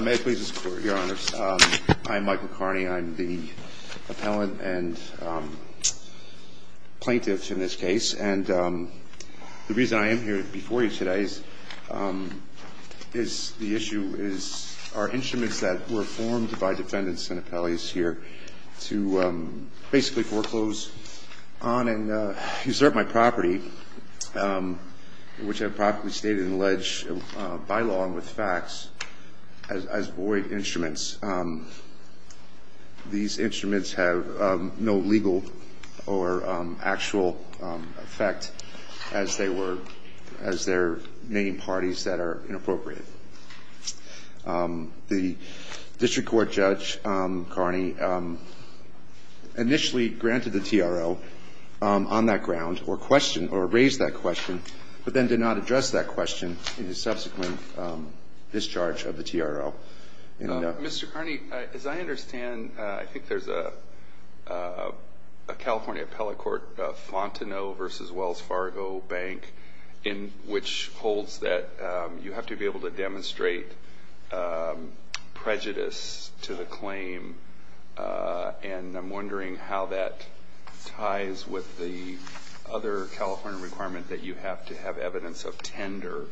May it please the Court, Your Honors. I'm Michael Carney. I'm the appellant and plaintiff in this case. And the reason I am here before you today is the issue is our instruments that were formed by defendants and appellees here to basically foreclose on and usurp my property, which I've properly stated and allege by law and with facts, as void instruments, these instruments have no legal or actual effect as they were, as their main parties that are inappropriate. The district court judge, Carney, initially granted the TRO on that ground or raised that question, but then did not address that question in the subsequent discharge of the TRO. Mr. Carney, as I understand, I think there's a California appellate court, Fontenot v. Wells Fargo Bank, which holds that you have to be able to demonstrate prejudice to the claim. And I'm wondering how that ties with the other California requirement that you have to have evidence of tender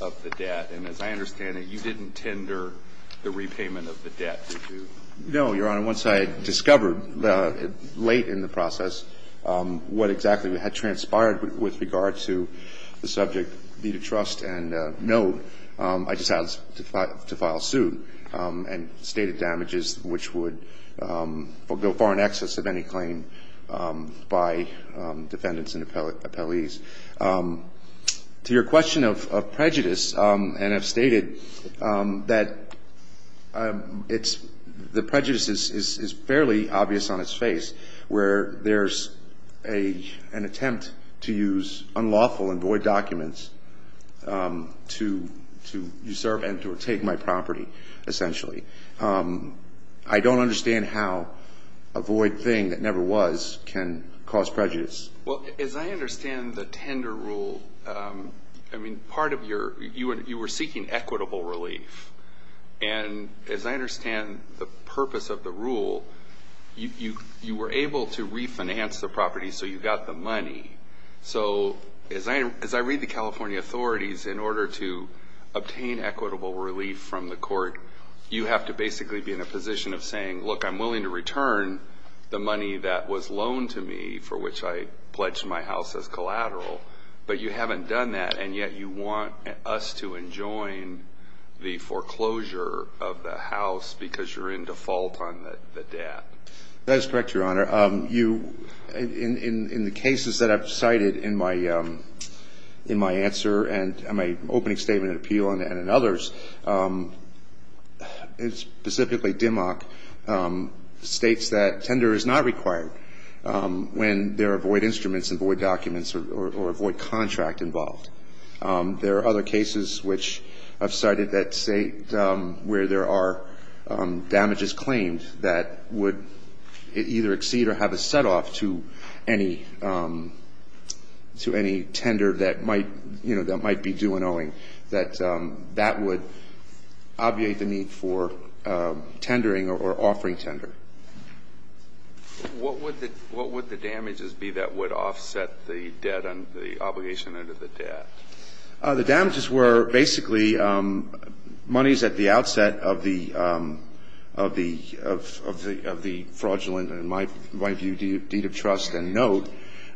of the debt. And as I understand it, you didn't tender the repayment of the debt, did you? No, Your Honor. Once I discovered late in the process what exactly had transpired with regard to the subject v. trust and no, I decided to file suit and stated damages which would go far in excess of any claim by defendants and appellees. To your question of prejudice, and I've stated that the prejudice is fairly obvious on its face, where there's an attempt to use unlawful and void documents to usurp and to take my property, essentially. I don't understand how a void thing that never was can cause prejudice. Well, as I understand the tender rule, I mean, part of your, you were seeking equitable relief. And as I understand the purpose of the rule, you were able to refinance the property so you got the money. So as I read the California authorities, in order to obtain equitable relief from the court, you have to basically be in a position of saying, look, I'm willing to return the money that was loaned to me, for which I pledged my house as collateral. But you haven't done that, and yet you want us to enjoin the foreclosure of the house because you're in default on the debt. That is correct, Your Honor. You, in the cases that I've cited in my answer and my opening statement of appeal and in others, specifically DMOC, states that tender is not required when there are void instruments and void documents or void contract involved. There are other cases which I've cited that state where there are damages claimed that would either exceed or have a setoff to any tender that might, you know, that might be due an owing. That that would obviate the need for tendering or offering tender. What would the damages be that would offset the debt and the obligation under the debt? The damages were basically monies at the outset of the fraudulent, in my view, deed of trust and note,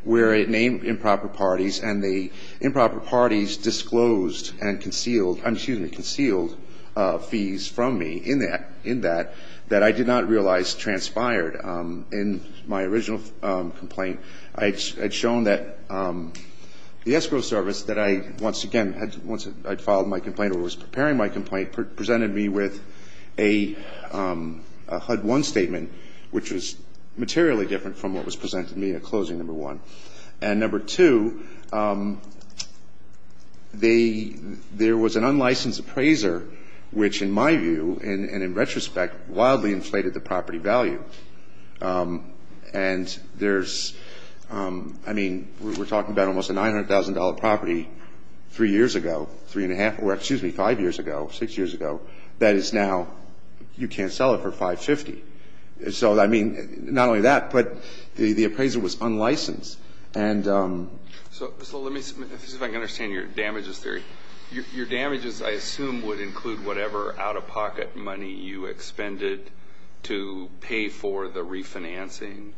where it named improper parties and the improper parties disclosed and concealed, excuse me, concealed fees from me in that that I did not realize transpired in my original complaint. I had shown that the escrow service that I, once again, once I'd filed my complaint or was preparing my complaint, presented me with a HUD-1 statement, which was materially different from what was presented to me at closing number one. And number two, there was an unlicensed appraiser which, in my view, and in retrospect, wildly inflated the property value. And there's, I mean, we're talking about almost a $900,000 property three years ago, three and a half, or, excuse me, five years ago, six years ago, that is now, you can't sell it for 550. So, I mean, not only that, but the appraiser was unlicensed. And so let me see if I can understand your damages theory. Your damages, I assume, would include whatever out-of-pocket money you expended to pay for the refinancing.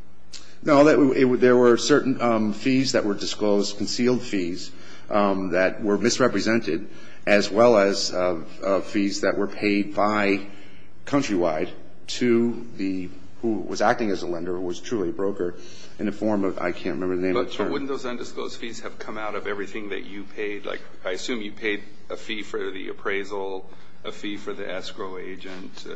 No, there were certain fees that were disclosed, concealed fees, that were misrepresented, as well as fees that were paid by Countrywide to the, who was acting as a lender, who was truly a broker, in the form of, I can't remember the name of the term. But wouldn't those undisclosed fees have come out of everything that you paid? Like, I assume you paid a fee for the appraisal, a fee for the escrow agent.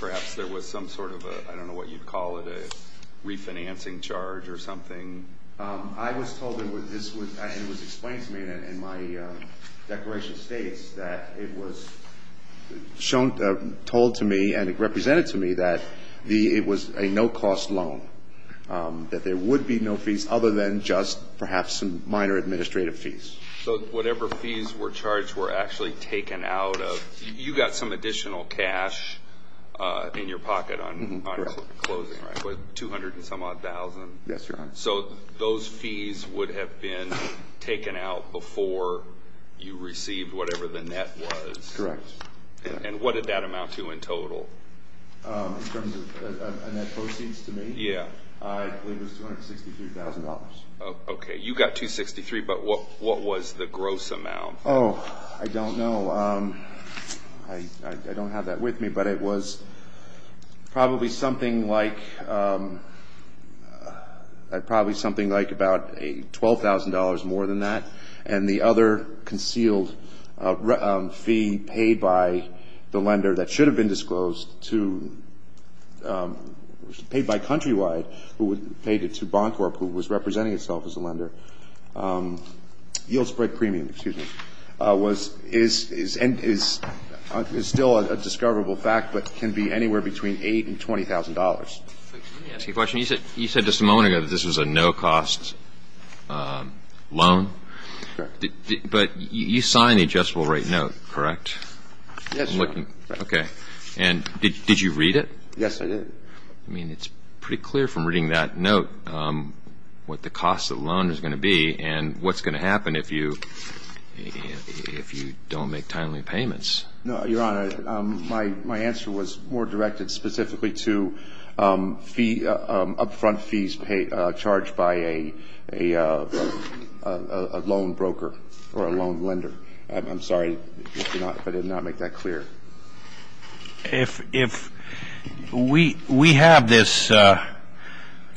Perhaps there was some sort of a, I don't know what you'd call it, a refinancing charge or something. I was told, and it was explained to me in my declaration of states, that it was told to me and represented to me that it was a no-cost loan, that there would be no fees other than just perhaps some minor administrative fees. So whatever fees were charged were actually taken out of, you got some additional cash in your pocket on closing, right? 200 and some odd thousand. Yes, Your Honor. So those fees would have been taken out before you received whatever the net was? Correct. And what did that amount to in total? In terms of a net proceeds to me? Yeah. I believe it was $263,000. Okay. You got $263,000, but what was the gross amount? Oh, I don't know. I don't have that with me, but it was probably something like about $12,000 more than that, and the other concealed fee paid by the lender that should have been disclosed, paid by Countrywide, who paid it to Boncorp, who was representing itself as a lender, yield spread premium, excuse me, is still a discoverable fact, but can be anywhere between $8,000 and $20,000. Let me ask you a question. You said just a moment ago that this was a no-cost loan. Correct. But you signed the adjustable rate note, correct? Yes, Your Honor. I'm looking. Okay. And did you read it? Yes, I did. I mean, it's pretty clear from reading that note what the cost of the loan is going to be and what's going to happen if you don't make timely payments. No, Your Honor. My answer was more directed specifically to up-front fees charged by a loan broker or a loan lender. I'm sorry if I did not make that clear. If we have this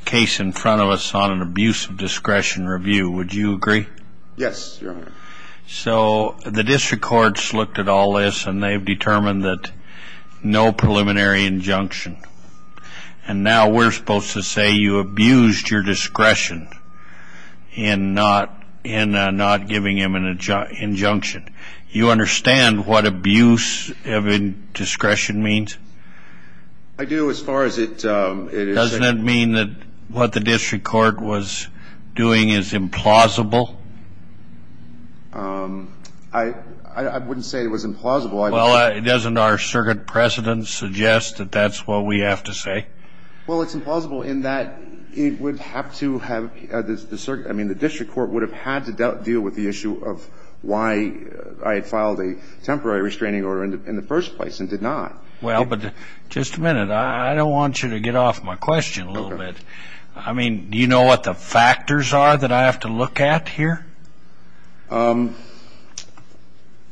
case in front of us on an abuse of discretion review, would you agree? Yes, Your Honor. So the district courts looked at all this, and they've determined that no preliminary injunction. And now we're supposed to say you abused your discretion in not giving him an injunction. You understand what abuse of discretion means? I do as far as it is. Doesn't it mean that what the district court was doing is implausible? I wouldn't say it was implausible. Well, doesn't our circuit precedent suggest that that's what we have to say? Well, it's implausible in that it would have to have the circuit. I mean, the district court would have had to deal with the issue of why I had filed a temporary restraining order in the first place and did not. Well, but just a minute. I don't want you to get off my question a little bit. I mean, do you know what the factors are that I have to look at here?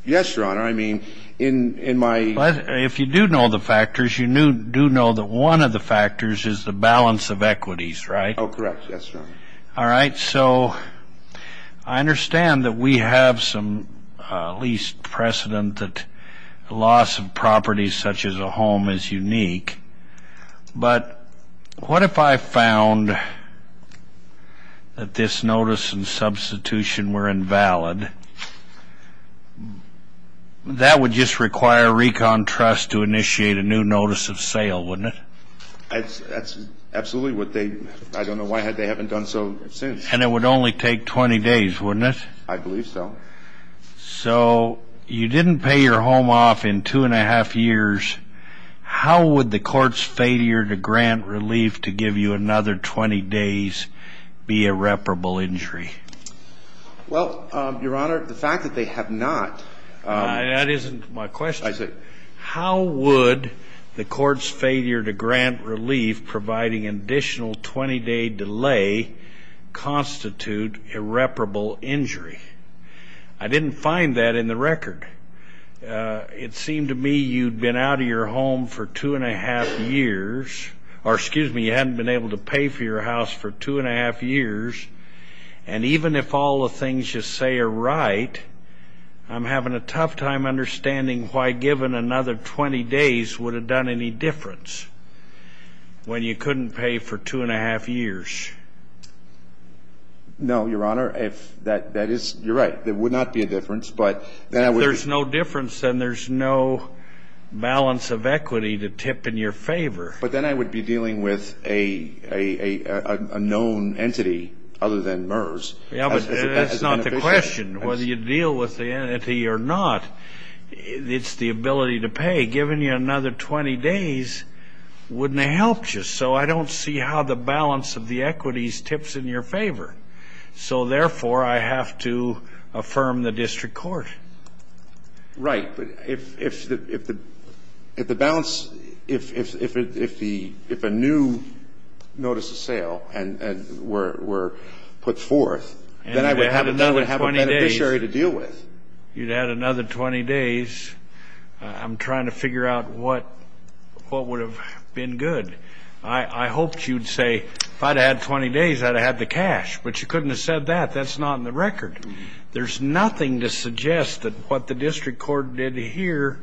Yes, Your Honor. I mean, in my ---- If you do know the factors, you do know that one of the factors is the balance of equities, right? Oh, correct. Yes, Your Honor. All right. So I understand that we have some least precedent that loss of property such as a home is unique. But what if I found that this notice and substitution were invalid? That would just require recon trust to initiate a new notice of sale, wouldn't it? Absolutely. I don't know why they haven't done so since. And it would only take 20 days, wouldn't it? I believe so. So you didn't pay your home off in two and a half years. How would the court's failure to grant relief to give you another 20 days be irreparable injury? Well, Your Honor, the fact that they have not ---- That isn't my question. I see. I didn't find that in the record. It seemed to me you'd been out of your home for two and a half years or, excuse me, you hadn't been able to pay for your house for two and a half years. And even if all the things you say are right, I'm having a tough time understanding why giving another 20 days would have done any difference when you couldn't pay for two and a half years. No, Your Honor. You're right. There would not be a difference. If there's no difference, then there's no balance of equity to tip in your favor. But then I would be dealing with a known entity other than MERS. That's not the question. Whether you deal with the entity or not, it's the ability to pay. Giving you another 20 days wouldn't have helped you. So I don't see how the balance of the equities tips in your favor. So, therefore, I have to affirm the district court. Right. But if the balance, if a new notice of sale were put forth, then I would have another beneficiary to deal with. You'd add another 20 days. I'm trying to figure out what would have been good. I hoped you'd say, if I'd have had 20 days, I'd have had the cash. But you couldn't have said that. That's not in the record. There's nothing to suggest that what the district court did here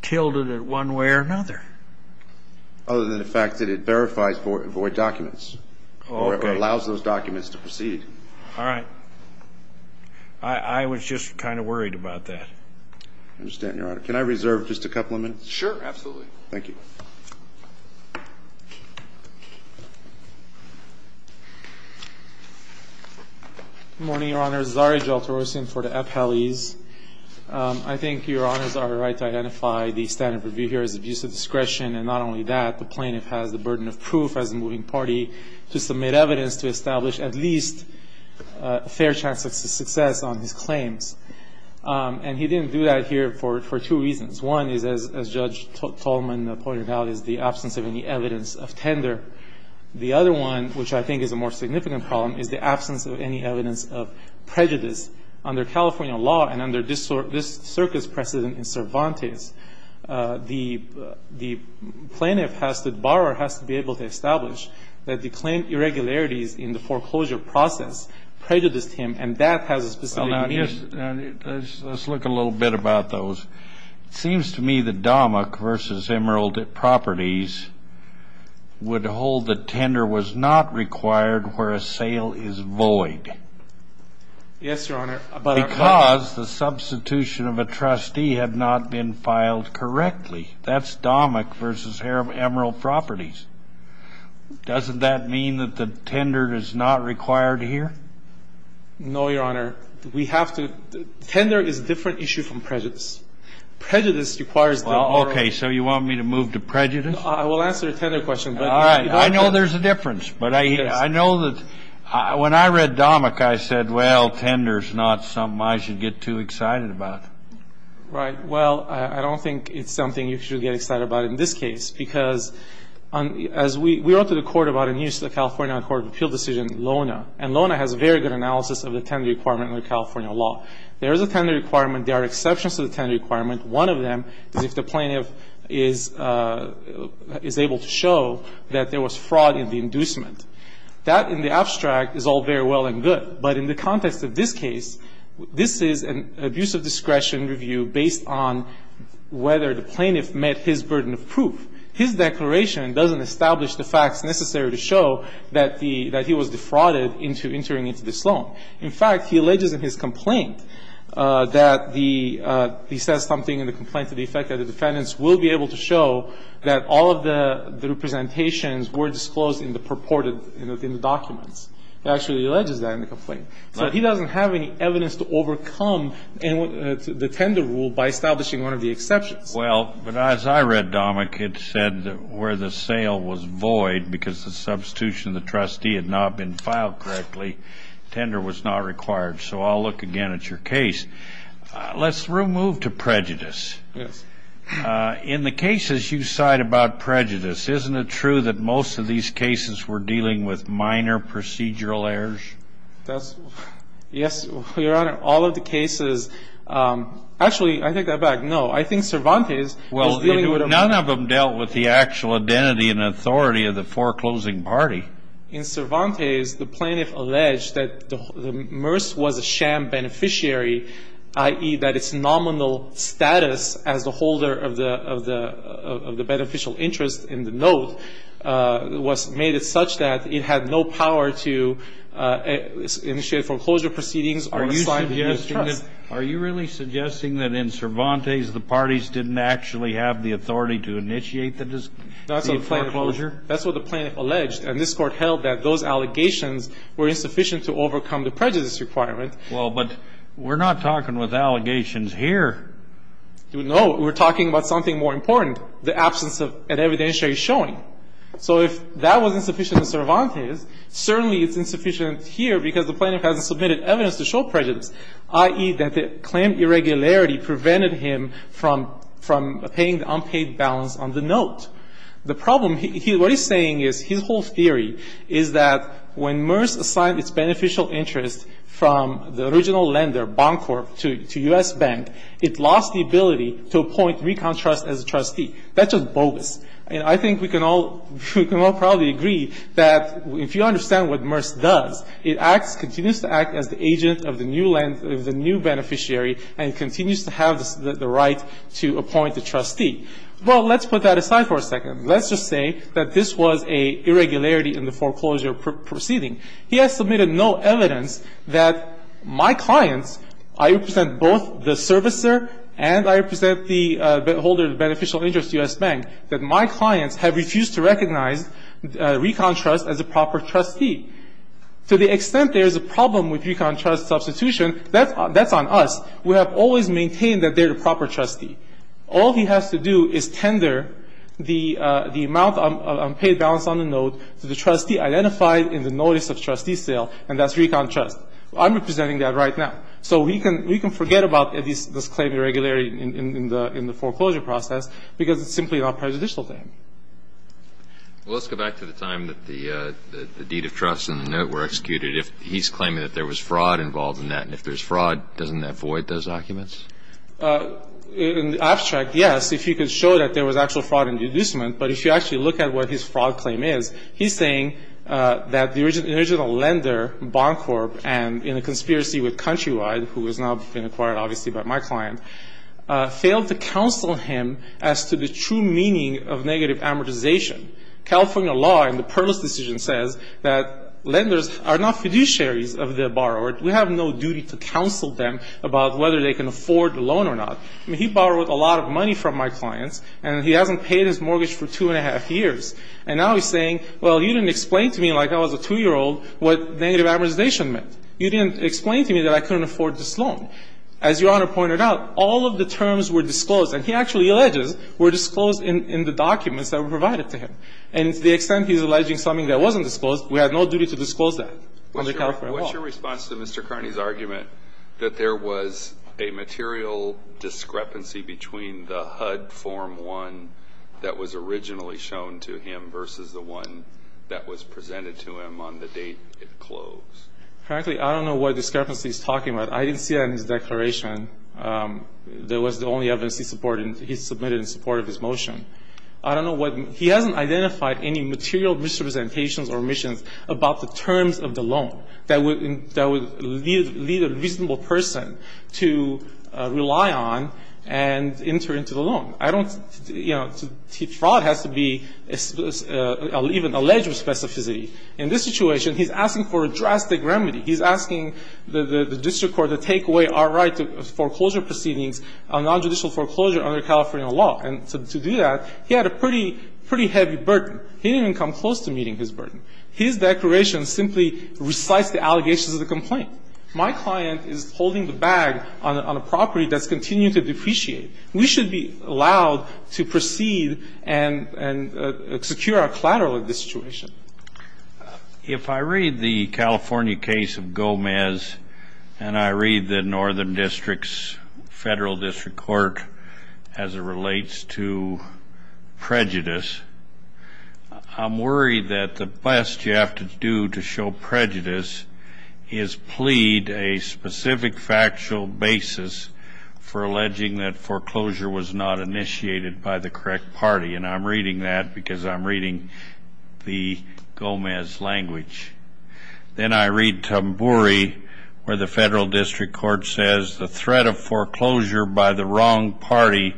tilted it one way or another. Other than the fact that it verifies void documents or allows those documents to proceed. All right. I was just kind of worried about that. I understand, Your Honor. Can I reserve just a couple of minutes? Sure. Absolutely. Thank you. Good morning, Your Honor. Zari Jalterosian for the Appellees. I think Your Honors are right to identify the standard of review here as abuse of discretion. And not only that, the plaintiff has the burden of proof as a moving party to submit evidence to establish at least a fair chance of success on his claims. And he didn't do that here for two reasons. One is, as Judge Tolman pointed out, is the absence of any evidence of tender. The other one, which I think is a more significant problem, is the absence of any evidence of prejudice. Under California law and under this circuit's precedent in Cervantes, the plaintiff has to borrow, has to be able to establish that the claim irregularities in the foreclosure process prejudiced him. And that has a specific meaning. Let's look a little bit about those. It seems to me that DOMIC v. Emerald Properties would hold that tender was not required where a sale is void. Yes, Your Honor. Because the substitution of a trustee had not been filed correctly. That's DOMIC v. Emerald Properties. Doesn't that mean that the tender is not required here? No, Your Honor. Tender is a different issue from prejudice. Prejudice requires the borrower. Okay. So you want me to move to prejudice? I will answer the tender question. All right. I know there's a difference. But I know that when I read DOMIC, I said, well, tender is not something I should get too excited about. Right. Well, I don't think it's something you should get excited about in this case. Because as we wrote to the Court about in the California Court of Appeal decision, LONA, and LONA has very good analysis of the tender requirement in the California law. There is a tender requirement. There are exceptions to the tender requirement. One of them is if the plaintiff is able to show that there was fraud in the inducement. That, in the abstract, is all very well and good. But in the context of this case, this is an abuse of discretion review based on whether the plaintiff met his burden of proof. His declaration doesn't establish the facts necessary to show that he was defrauded into entering into this loan. In fact, he alleges in his complaint that the he says something in the complaint to the effect that the defendants will be able to show that all of the representations were disclosed in the purported in the documents. He actually alleges that in the complaint. So he doesn't have any evidence to overcome the tender rule by establishing one of the exceptions. Well, but as I read, Dominic, it said where the sale was void because the substitution of the trustee had not been filed correctly, tender was not required. So I'll look again at your case. Let's move to prejudice. Yes. In the cases you cite about prejudice, isn't it true that most of these cases were dealing with minor procedural errors? Yes, Your Honor, all of the cases. Actually, I take that back. No, I think Cervantes was dealing with a minor. Well, none of them dealt with the actual identity and authority of the foreclosing party. In Cervantes, the plaintiff alleged that the MRS was a sham beneficiary, i.e., that its nominal status as the holder of the beneficial interest in the note was made such that it had no power to initiate foreclosure proceedings or assign the new trust. Are you really suggesting that in Cervantes the parties didn't actually have the authority to initiate the foreclosure? That's what the plaintiff alleged. And this Court held that those allegations were insufficient to overcome the prejudice requirement. Well, but we're not talking with allegations here. No. We're talking about something more important, the absence of an evidentiary showing. So if that was insufficient in Cervantes, certainly it's insufficient here because the plaintiff hasn't submitted evidence to show prejudice, i.e., that the claimed irregularity prevented him from paying the unpaid balance on the note. The problem, what he's saying is his whole theory is that when MRS assigned its beneficial interest from the original lender, Boncorp, to U.S. Bank, it lost the ability to appoint Recon Trust as a trustee. That's just bogus. And I think we can all probably agree that if you understand what MRS does, it acts as the agent of the new beneficiary and continues to have the right to appoint the trustee. Well, let's put that aside for a second. Let's just say that this was an irregularity in the foreclosure proceeding. He has submitted no evidence that my clients, I represent both the servicer and I represent the holder of the beneficial interest, U.S. Bank, that my clients have refused to recognize Recon Trust as a proper trustee. To the extent there is a problem with Recon Trust substitution, that's on us. We have always maintained that they're the proper trustee. All he has to do is tender the amount of unpaid balance on the note to the trustee identified in the notice of trustee sale, and that's Recon Trust. I'm representing that right now. So we can forget about this claim irregularity in the foreclosure process because it's simply not prejudicial to him. Well, let's go back to the time that the deed of trust and the note were executed. He's claiming that there was fraud involved in that, and if there's fraud, doesn't that void those documents? In the abstract, yes, if you could show that there was actual fraud in the inducement. But if you actually look at what his fraud claim is, he's saying that the original lender, Boncorp, and in a conspiracy with Countrywide, who has now been acquired obviously by my client, failed to counsel him as to the true meaning of negative amortization. California law in the Perlis decision says that lenders are not fiduciaries of their borrower. We have no duty to counsel them about whether they can afford a loan or not. He borrowed a lot of money from my clients, and he hasn't paid his mortgage for two and a half years. And now he's saying, well, you didn't explain to me like I was a two-year-old what negative amortization meant. You didn't explain to me that I couldn't afford this loan. As Your Honor pointed out, all of the terms were disclosed, and he actually alleges were disclosed in the documents that were provided to him. And to the extent he's alleging something that wasn't disclosed, we have no duty to disclose that under California law. What's your response to Mr. Carney's argument that there was a material discrepancy between the HUD Form 1 that was originally shown to him versus the one that was presented to him on the date it closed? Frankly, I don't know what discrepancy he's talking about. I didn't see that in his declaration. That was the only evidence he submitted in support of his motion. I don't know what he hasn't identified any material misrepresentations or omissions about the terms of the loan that would lead a reasonable person to rely on and enter into the loan. I don't, you know, fraud has to be even alleged with specificity. In this situation, he's asking for a drastic remedy. He's asking the district court to take away our right to foreclosure proceedings on nonjudicial foreclosure under California law. And to do that, he had a pretty heavy burden. He didn't even come close to meeting his burden. His declaration simply recites the allegations of the complaint. My client is holding the bag on a property that's continuing to depreciate. We should be allowed to proceed and secure our collateral in this situation. If I read the California case of Gomez and I read the northern district's federal district court as it relates to prejudice, I'm worried that the best you have to do to show prejudice is plead a specific factual basis for alleging that foreclosure was not initiated by the correct party. And I'm reading that because I'm reading the Gomez language. Then I read Tambouri where the federal district court says the threat of foreclosure by the wrong party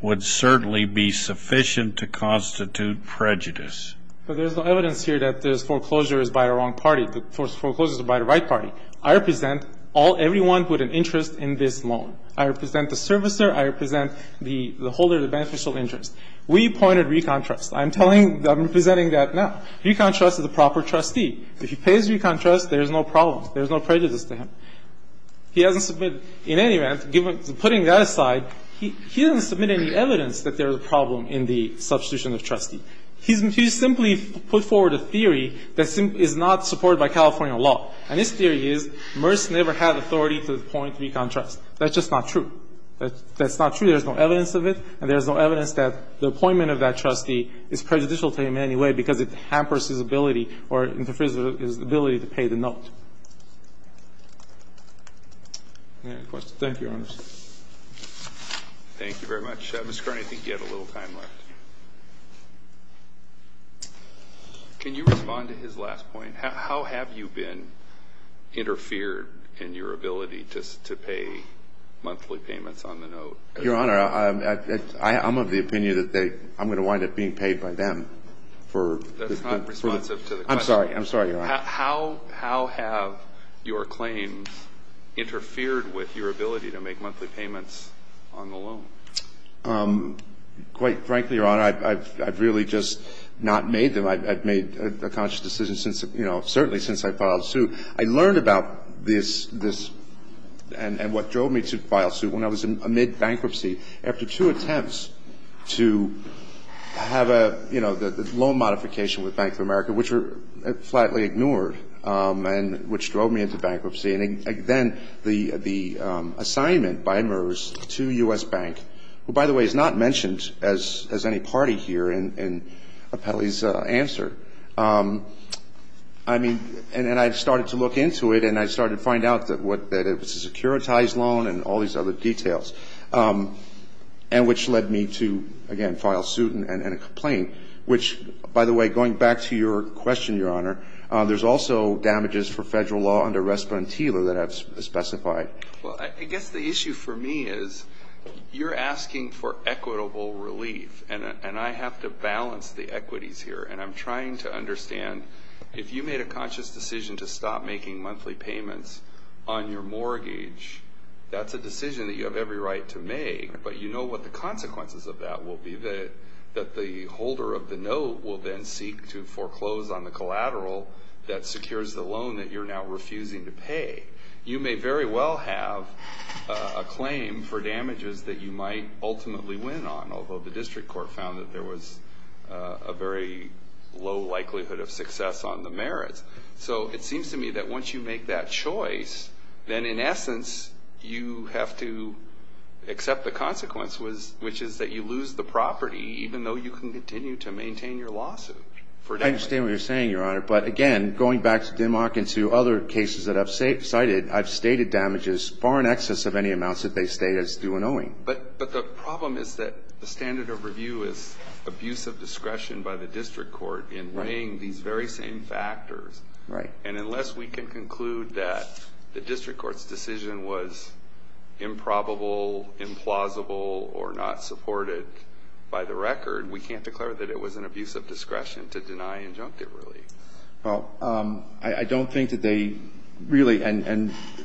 would certainly be sufficient to constitute prejudice. But there's no evidence here that this foreclosure is by the wrong party. The foreclosure is by the right party. I represent everyone with an interest in this loan. I represent the servicer. I represent the holder of the beneficial interest. We pointed ReconTrust. I'm telling you, I'm representing that now. ReconTrust is a proper trustee. If he pays ReconTrust, there's no problem. There's no prejudice to him. He hasn't submitted any evidence. Putting that aside, he hasn't submitted any evidence that there's a problem in the substitution of trustee. He's simply put forward a theory that is not supported by California law. And his theory is Merce never had authority to point ReconTrust. That's just not true. That's not true. There's no evidence of it. And there's no evidence that the appointment of that trustee is prejudicial to him in any way because it hampers his ability or interferes with his ability to pay the note. Any other questions? Thank you, Your Honors. Thank you very much. Mr. Carney, I think you have a little time left. Can you respond to his last point? How have you been interfered in your ability to pay monthly payments on the note? Your Honor, I'm of the opinion that I'm going to wind up being paid by them for the question. That's not responsive to the question. I'm sorry. I'm sorry, Your Honor. How have your claims interfered with your ability to make monthly payments on the loan? Quite frankly, Your Honor, I've really just not made them. I've made a conscious decision since, you know, certainly since I filed suit. I learned about this and what drove me to file suit when I was amid bankruptcy after two attempts to have a, you know, the loan modification with Bank of America, which were flatly ignored and which drove me into bankruptcy. And then the assignment by MERS to U.S. Bank, who, by the way, is not mentioned as any party here in Appelli's answer. I mean, and I started to look into it and I started to find out that it was a securitized loan and all these other details, and which led me to, again, file suit and a complaint, which, by the way, going back to your question, Your Honor, there's also damages for federal law under Respondela that I've specified. Well, I guess the issue for me is you're asking for equitable relief, and I have to balance the equities here. And I'm trying to understand if you made a conscious decision to stop making monthly payments on your mortgage, that's a decision that you have every right to make, but you know what the consequences of that will be, that the holder of the note will then seek to foreclose on the collateral that secures the loan that you're now refusing to pay. You may very well have a claim for damages that you might ultimately win on, although the district court found that there was a very low likelihood of success on the merits. So it seems to me that once you make that choice, then in essence you have to accept the consequence, which is that you lose the property, even though you can continue to maintain your lawsuit for damages. I understand what you're saying, Your Honor. But, again, going back to DIMOC and to other cases that I've cited, I've stated damages far in excess of any amounts that they state as due and owing. But the problem is that the standard of review is abuse of discretion by the district court in weighing these very same factors. Right. And unless we can conclude that the district court's decision was improbable, implausible, or not supported by the record, we can't declare that it was an abuse of discretion to deny injunctive relief. Well, I don't think that they really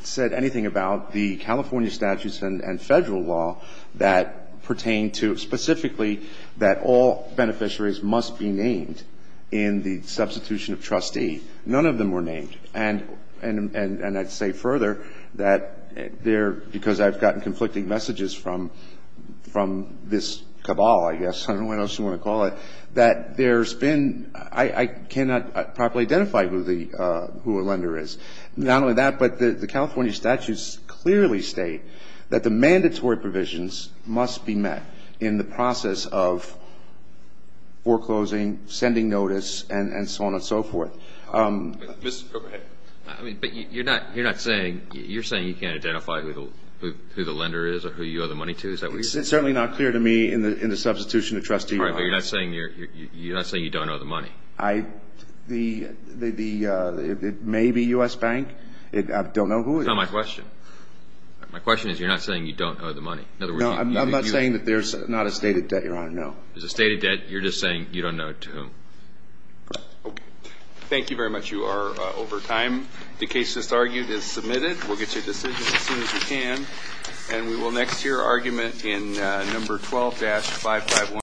said anything about the California statutes and Federal law that pertain to specifically that all beneficiaries must be named in the substitution of trustee. None of them were named. And I'd say further that there, because I've gotten conflicting messages from this cabal, I guess. I don't know what else you want to call it. That there's been, I cannot properly identify who a lender is. Not only that, but the California statutes clearly state that the mandatory provisions must be met in the process of foreclosing, sending notice, and so on and so forth. Mr. Cooper, go ahead. But you're not saying, you're saying you can't identify who the lender is or who you owe the money to? It's certainly not clear to me in the substitution of trustee. All right, but you're not saying you don't owe the money? I, the, it may be U.S. Bank. I don't know who it is. That's not my question. My question is you're not saying you don't owe the money? No, I'm not saying that there's not a stated debt, Your Honor, no. There's a stated debt. You're just saying you don't know to whom? Correct. Okay. Thank you very much. You are over time. The case just argued is submitted. We'll get you a decision as soon as we can. And we will next hear argument in number 12-551.